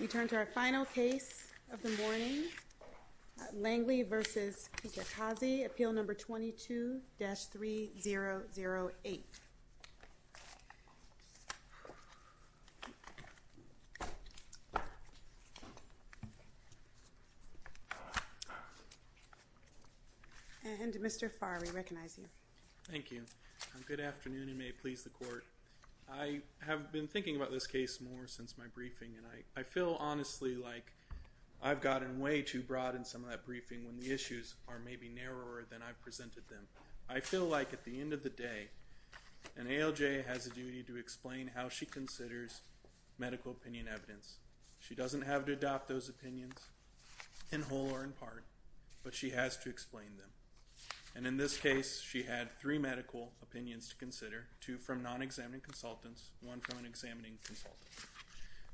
We turn to our final case of the morning, Langley v. Kijakazi, Appeal No. 22-3008. And Mr. Farr, we recognize you. Thank you. Good afternoon, and may it please the Court. I have been thinking about this case more since my briefing, and I feel honestly like I've gotten way too broad in some of that briefing when the issues are maybe narrower than I've presented them. I feel like at the end of the day an ALJ has a duty to explain how she considers medical opinion evidence. She doesn't have to adopt those opinions in whole or in part, but she has to explain them. And in this case, she had three medical opinions to consider, two from non-examining consultants, one from an examining consultant.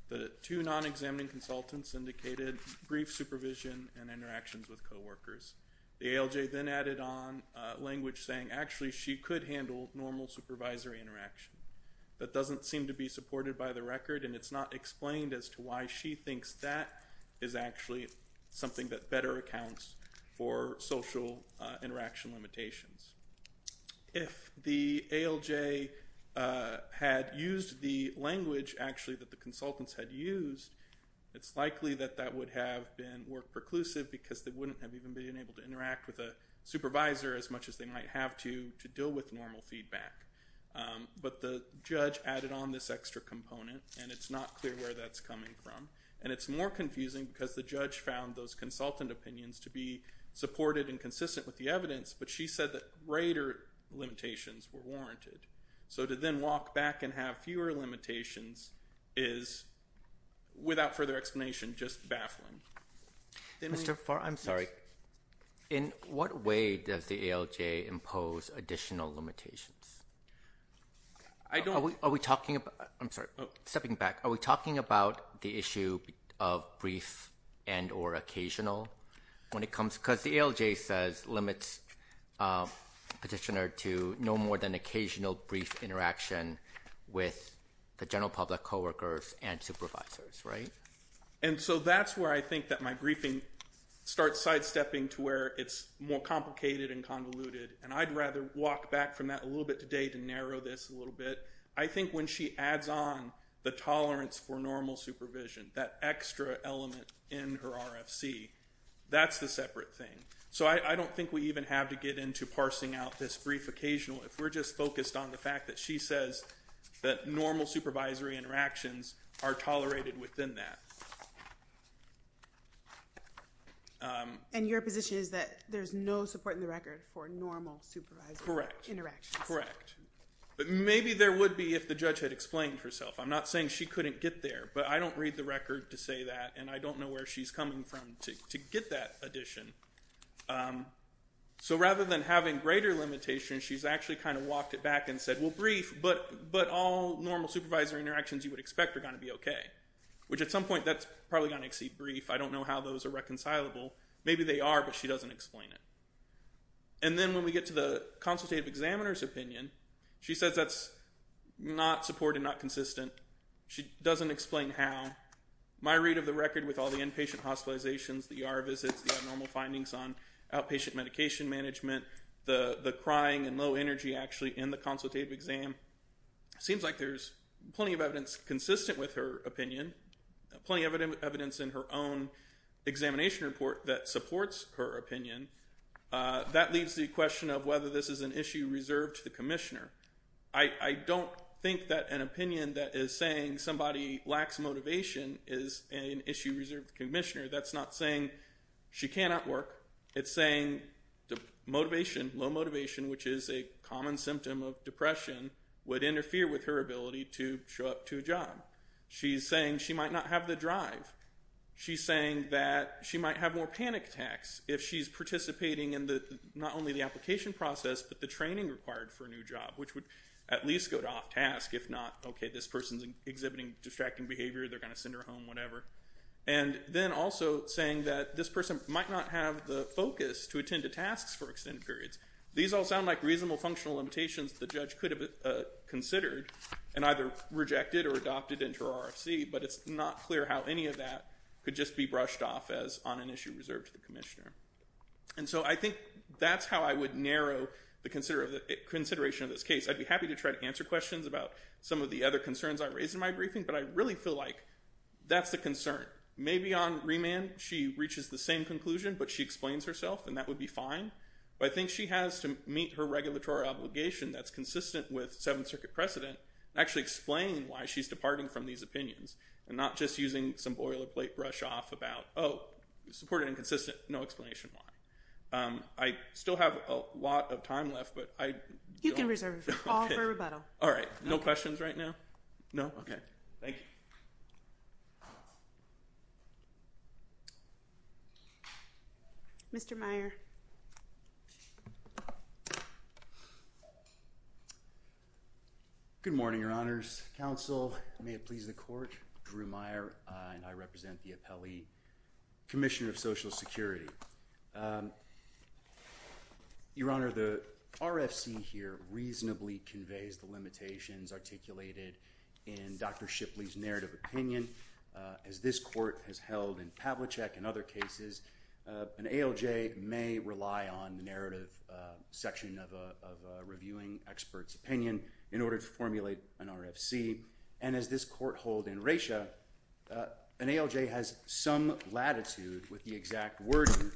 The two non-examining consultants indicated brief supervision and interactions with coworkers. The ALJ then added on language saying actually she could handle normal supervisory interaction. That doesn't seem to be supported by the record, and it's not explained as to why she thinks that is actually something that better accounts for social interaction limitations. If the ALJ had used the language actually that the consultants had used, it's likely that that would have been more preclusive because they wouldn't have even been able to interact with a supervisor as much as they might have to to deal with normal feedback. But the judge added on this extra component, and it's not clear where that's coming from. And it's more confusing because the judge found those consultant opinions to be supported and consistent with the evidence, but she said that greater limitations were warranted. So to then walk back and have fewer limitations is, without further explanation, just baffling. Mr. Farr, I'm sorry. In what way does the ALJ impose additional limitations? Are we talking about – I'm sorry, stepping back. Are we talking about the issue of brief and or occasional when it comes – because the ALJ says limits petitioner to no more than occasional brief interaction with the general public coworkers and supervisors, right? And so that's where I think that my briefing starts sidestepping to where it's more complicated and convoluted, and I'd rather walk back from that a little bit today to narrow this a little bit. I think when she adds on the tolerance for normal supervision, that extra element in her RFC, that's the separate thing. So I don't think we even have to get into parsing out this brief occasional if we're just focused on the fact that she says that normal supervisory interactions are tolerated within that. And your position is that there's no support in the record for normal supervisory interactions? Correct. Correct. But maybe there would be if the judge had explained herself. I'm not saying she couldn't get there, but I don't read the record to say that, and I don't know where she's coming from to get that addition. So rather than having greater limitations, she's actually kind of walked it back and said, well, brief, but all normal supervisory interactions you would expect are going to be okay, which at some point that's probably going to exceed brief. I don't know how those are reconcilable. Maybe they are, but she doesn't explain it. And then when we get to the consultative examiner's opinion, she says that's not supported, not consistent. She doesn't explain how. My read of the record with all the inpatient hospitalizations, the ER visits, the abnormal findings on outpatient medication management, the crying and low energy actually in the consultative exam, seems like there's plenty of evidence consistent with her opinion, plenty of evidence in her own examination report that supports her opinion. That leaves the question of whether this is an issue reserved to the commissioner. I don't think that an opinion that is saying somebody lacks motivation is an issue reserved to the commissioner. That's not saying she cannot work. It's saying motivation, low motivation, which is a common symptom of depression, would interfere with her ability to show up to a job. She's saying she might not have the drive. She's saying that she might have more panic attacks if she's participating in not only the application process, but the training required for a new job, which would at least go to off task. If not, okay, this person's exhibiting distracting behavior, they're going to send her home, whatever. And then also saying that this person might not have the focus to attend to tasks for extended periods. These all sound like reasonable functional limitations the judge could have considered and either rejected or adopted into her RFC, but it's not clear how any of that could just be brushed off as on an issue reserved to the commissioner. And so I think that's how I would narrow the consideration of this case. I'd be happy to try to answer questions about some of the other concerns I raised in my briefing, but I really feel like that's the concern. Maybe on remand she reaches the same conclusion, but she explains herself, and that would be fine. But I think she has to meet her regulatory obligation that's consistent with Seventh Circuit precedent and actually explain why she's departing from these opinions and not just using some boilerplate brush off about, oh, supported and consistent, no explanation why. I still have a lot of time left, but I don't know. You can reserve it all for rebuttal. All right, no questions right now? No, okay, thank you. Mr. Meyer. Good morning, Your Honor's counsel. May it please the court. Drew Meyer. And I represent the appellee. Commissioner of Social Security. Your Honor, the RFC here reasonably conveys the limitations articulated in Dr. Shipley's narrative opinion. As this court has held in Pavlicek and other cases, an ALJ may rely on the narrative section of a reviewing expert's opinion in order to formulate an RFC. And as this court hold in Resha, an ALJ has some latitude with the exact wording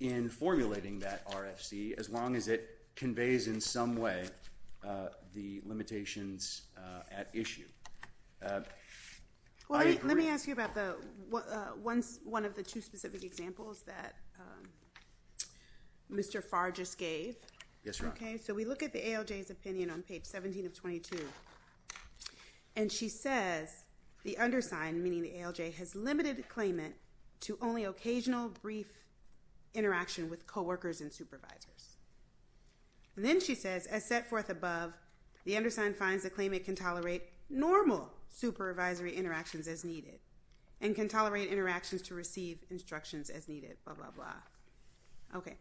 in formulating that RFC as long as it conveys in some way the limitations at issue. Well, let me ask you about one of the two specific examples that Mr. Farr just gave. Yes, Your Honor. Okay, so we look at the ALJ's opinion on page 17 of 22. And she says the undersigned, meaning the ALJ, has limited claimant to only occasional brief interaction with coworkers and supervisors. And then she says, as set forth above, the undersigned finds the claimant can tolerate normal supervisory interactions as needed and can tolerate interactions to receive instructions as needed, blah, blah, blah. Okay.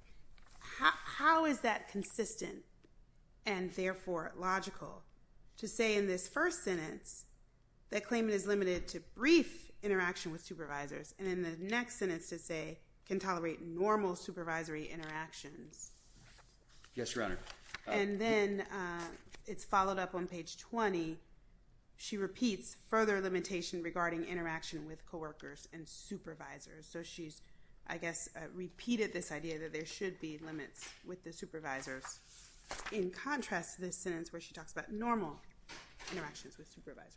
How is that consistent and therefore logical to say in this first sentence that claimant is limited to brief interaction with supervisors and in the next sentence to say can tolerate normal supervisory interactions? Yes, Your Honor. And then it's followed up on page 20. She repeats further limitation regarding interaction with coworkers and supervisors. So she's, I guess, repeated this idea that there should be limits with the supervisors. In contrast, this sentence where she talks about normal interactions with supervisors.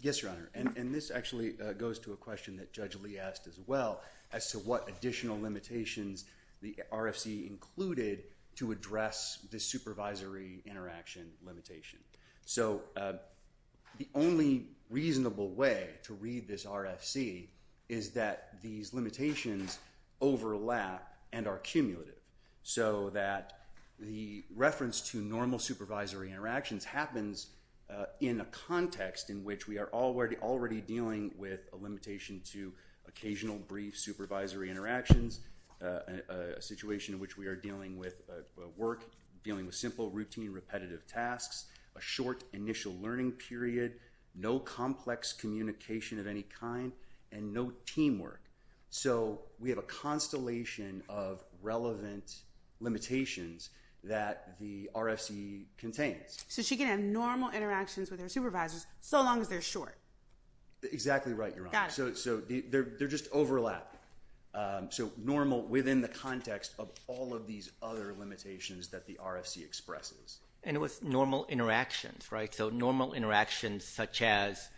Yes, Your Honor. And this actually goes to a question that Judge Lee asked as well as to what additional limitations the RFC included to address the supervisory interaction limitation. So the only reasonable way to read this RFC is that these limitations overlap and are cumulative. So that the reference to normal supervisory interactions happens in a context in which we are already dealing with a limitation to occasional brief supervisory interactions, a situation in which we are dealing with work, dealing with simple, routine, repetitive tasks, a short initial learning period, no complex communication of any kind, and no teamwork. So we have a constellation of relevant limitations that the RFC contains. So she can have normal interactions with her supervisors so long as they're short. Exactly right, Your Honor. Got it. So they're just overlapping. So normal within the context of all of these other limitations that the RFC expresses. And with normal interactions, right? So normal interactions such as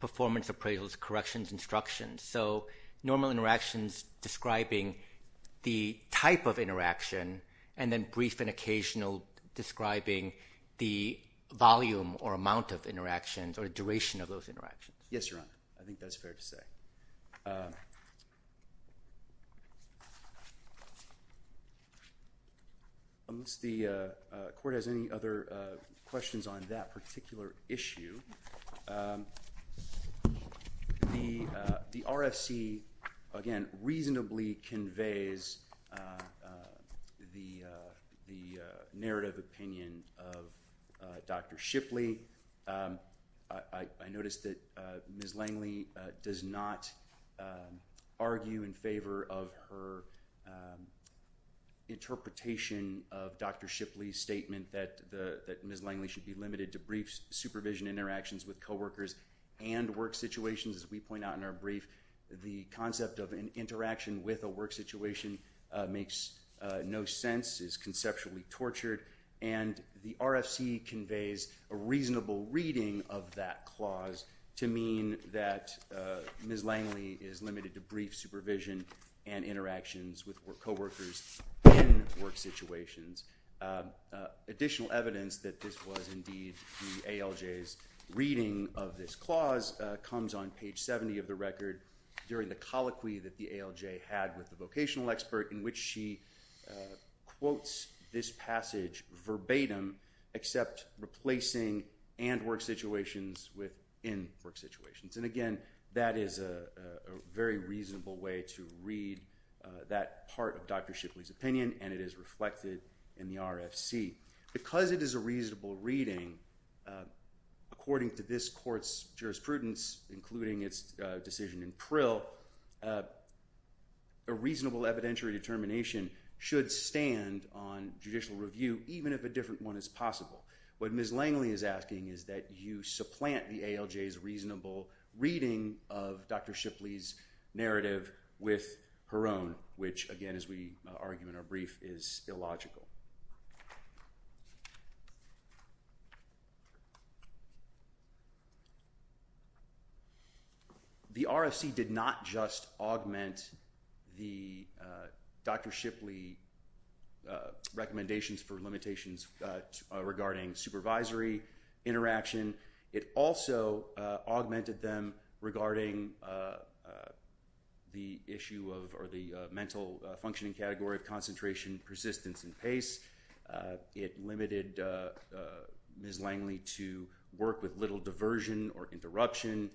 performance appraisals, corrections, instructions. So normal interactions describing the type of interaction and then brief and occasional describing the volume or amount of interactions or duration of those interactions. Yes, Your Honor. I think that's fair to say. Unless the court has any other questions on that particular issue, the RFC, again, reasonably conveys the narrative opinion of Dr. Shipley. I noticed that Ms. Langley does not argue in favor of her interpretation of Dr. Shipley's statement that Ms. Langley should be limited to brief supervision interactions with coworkers and work situations. As we point out in our brief, the concept of an interaction with a work situation makes no sense, is conceptually tortured. And the RFC conveys a reasonable reading of that clause to mean that Ms. Langley is limited to brief supervision and interactions with coworkers in work situations. Additional evidence that this was indeed the ALJ's reading of this clause comes on page 70 of the record during the colloquy that the ALJ had with the vocational expert in which she quotes this passage verbatim except replacing and work situations with in work situations. And again, that is a very reasonable way to read that part of Dr. Shipley's opinion and it is reflected in the RFC. Because it is a reasonable reading, according to this court's jurisprudence, including its decision in Prill, a reasonable evidentiary determination should stand on judicial review even if a different one is possible. What Ms. Langley is asking is that you supplant the ALJ's reasonable reading of Dr. Shipley's narrative with her own, which again, as we argue in our brief, is illogical. The RFC did not just augment Dr. Shipley's recommendations for limitations regarding supervisory interaction. It also augmented them regarding the mental functioning category of concentration, persistence, and pace. It limited Ms. Langley to work with little diversion or interruption.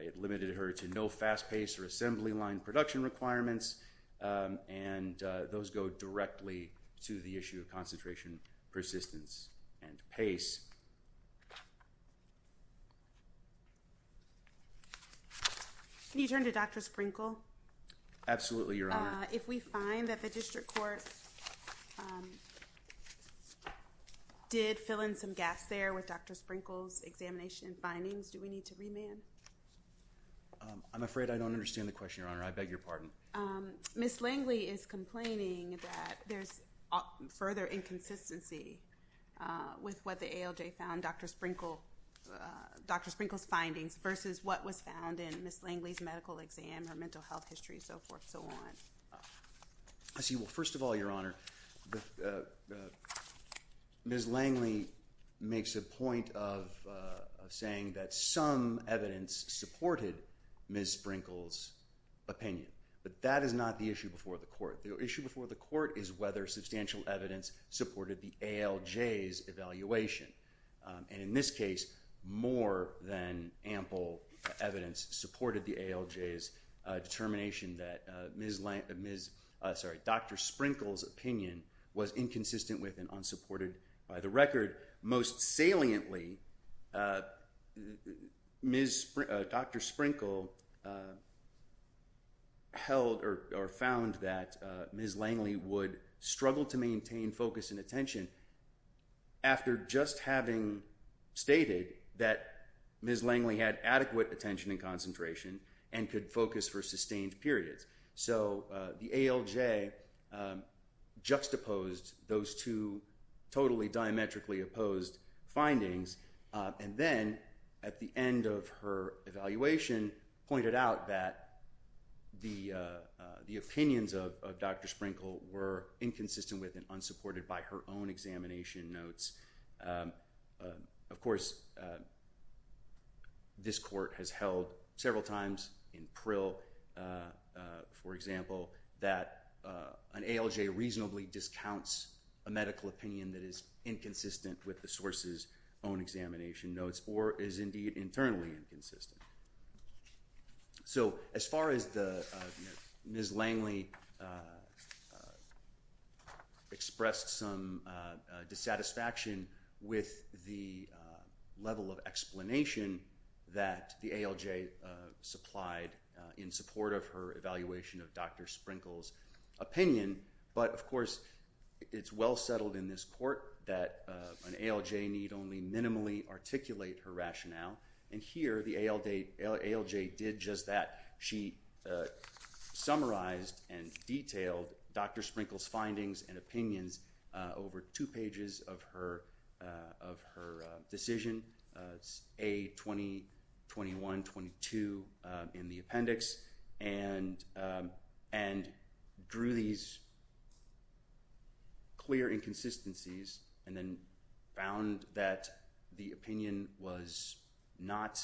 It limited her to no fast pace or assembly line production requirements. And those go directly to the issue of concentration, persistence, and pace. Can you turn to Dr. Sprinkle? Absolutely, Your Honor. If we find that the district court did fill in some gaps there with Dr. Sprinkle's examination findings, do we need to remand? I'm afraid I don't understand the question, Your Honor. I beg your pardon. Ms. Langley is complaining that there's further inconsistency with what the ALJ found Dr. Sprinkle's findings versus what was found in Ms. Langley's medical exam, her mental health history, and so forth and so on. I see. Well, first of all, Your Honor, Ms. Langley makes a point of saying that some evidence supported Ms. Sprinkle's opinion. But that is not the issue before the court. The issue before the court is whether substantial evidence supported the ALJ's evaluation. And in this case, more than ample evidence supported the ALJ's determination that Dr. Sprinkle's opinion was inconsistent with and unsupported by the record. Most saliently, Dr. Sprinkle held or found that Ms. Langley would struggle to maintain focus and attention after just having stated that Ms. Langley had adequate attention and concentration and could focus for sustained periods. So the ALJ juxtaposed those two totally diametrically opposed findings and then at the end of her evaluation pointed out that the opinions of Dr. Sprinkle were inconsistent with and unsupported by her own examination notes. Of course, this court has held several times in Prill, for example, that an ALJ reasonably discounts a medical opinion that is inconsistent with the source's own examination notes or is indeed internally inconsistent. So as far as Ms. Langley expressed some dissatisfaction with the level of explanation that the ALJ supplied in support of her evaluation of Dr. Sprinkle's opinion, but of course it's well settled in this court that an ALJ need only minimally articulate her rationale. And here the ALJ did just that. She summarized and detailed Dr. Sprinkle's findings and opinions over two pages of her decision, A-2021-22 in the appendix, and drew these clear inconsistencies and then found that the opinion was not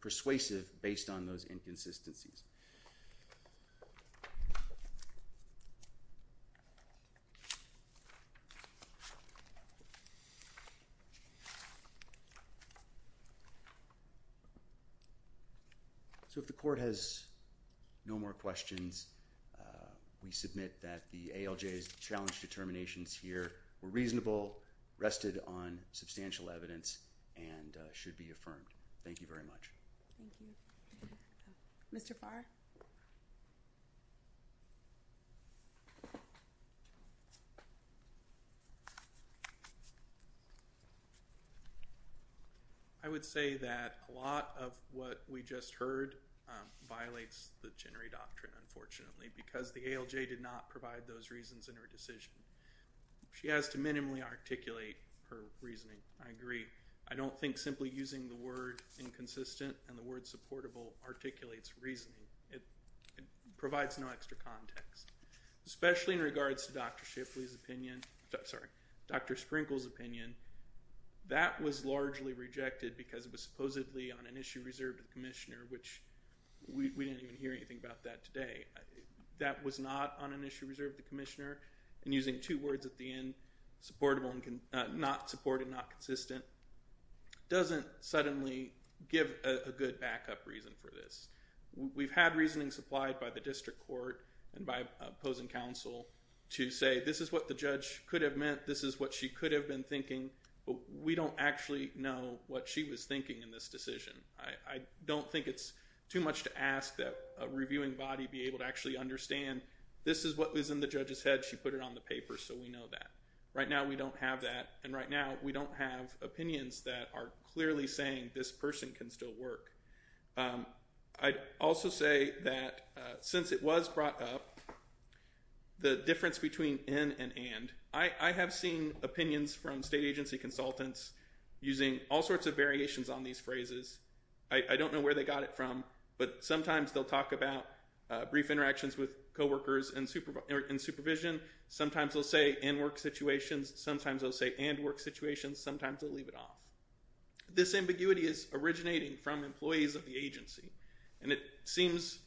persuasive based on those inconsistencies. So if the court has no more questions, we submit that the ALJ's challenge determinations here were reasonable, rested on substantial evidence, and should be affirmed. Thank you very much. Thank you. Mr. Farr? I would say that a lot of what we just heard violates the generate doctrine, unfortunately, because the ALJ did not provide those reasons in her decision. She has to minimally articulate her reasoning. I agree. I don't think simply using the word inconsistent and the word supportable articulates reasoning. It provides no extra context, especially in regards to Dr. Shipley's opinion – sorry, Dr. Sprinkle's opinion. That was largely rejected because it was supposedly on an issue reserved to the commissioner, which we didn't even hear anything about that today. That was not on an issue reserved to the commissioner, and using two words at the end, supportable and not supportive, not consistent, doesn't suddenly give a good backup reason for this. We've had reasoning supplied by the district court and by opposing counsel to say this is what the judge could have meant, this is what she could have been thinking, but we don't actually know what she was thinking in this decision. I don't think it's too much to ask that a reviewing body be able to actually understand this is what was in the judge's head, she put it on the paper, so we know that. Right now we don't have that, and right now we don't have opinions that are clearly saying this person can still work. I'd also say that since it was brought up, the difference between in and and. I have seen opinions from state agency consultants using all sorts of variations on these phrases. I don't know where they got it from, but sometimes they'll talk about brief interactions with coworkers in supervision, sometimes they'll say in work situations, sometimes they'll say and work situations, sometimes they'll leave it off. This ambiguity is originating from employees of the agency, and it seems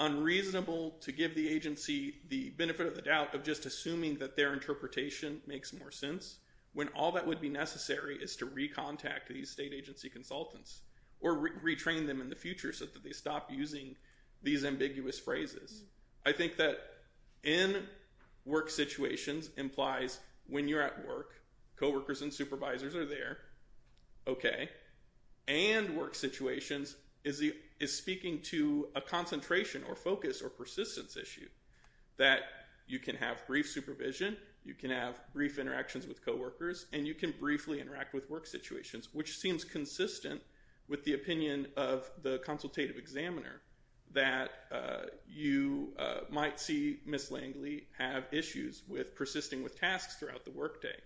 unreasonable to give the agency the benefit of the doubt of just assuming that their interpretation makes more sense when all that would be necessary is to recontact these state agency consultants, or retrain them in the future so that they stop using these ambiguous phrases. I think that in work situations implies when you're at work, coworkers and supervisors are there, okay, and work situations is speaking to a concentration or focus or persistence issue that you can have brief supervision, you can have brief interactions with coworkers, and you can briefly interact with work situations, which seems consistent with the opinion of the consultative examiner that you might see Ms. Langley have issues with persisting with tasks throughout the workday.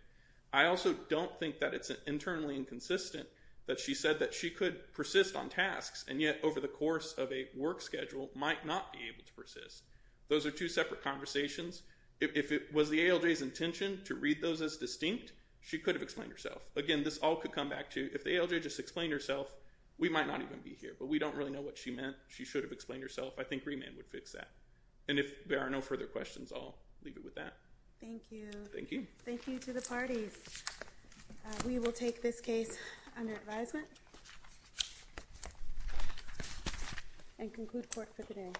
I also don't think that it's internally inconsistent that she said that she could persist on tasks and yet over the course of a work schedule might not be able to persist. Those are two separate conversations. If it was the ALJ's intention to read those as distinct, she could have explained herself. Again, this all could come back to if the ALJ just explained herself, we might not even be here, but we don't really know what she meant. She should have explained herself. I think remand would fix that, and if there are no further questions, I'll leave it with that. Thank you. Thank you. Thank you to the parties. We will take this case under advisement and conclude court for today.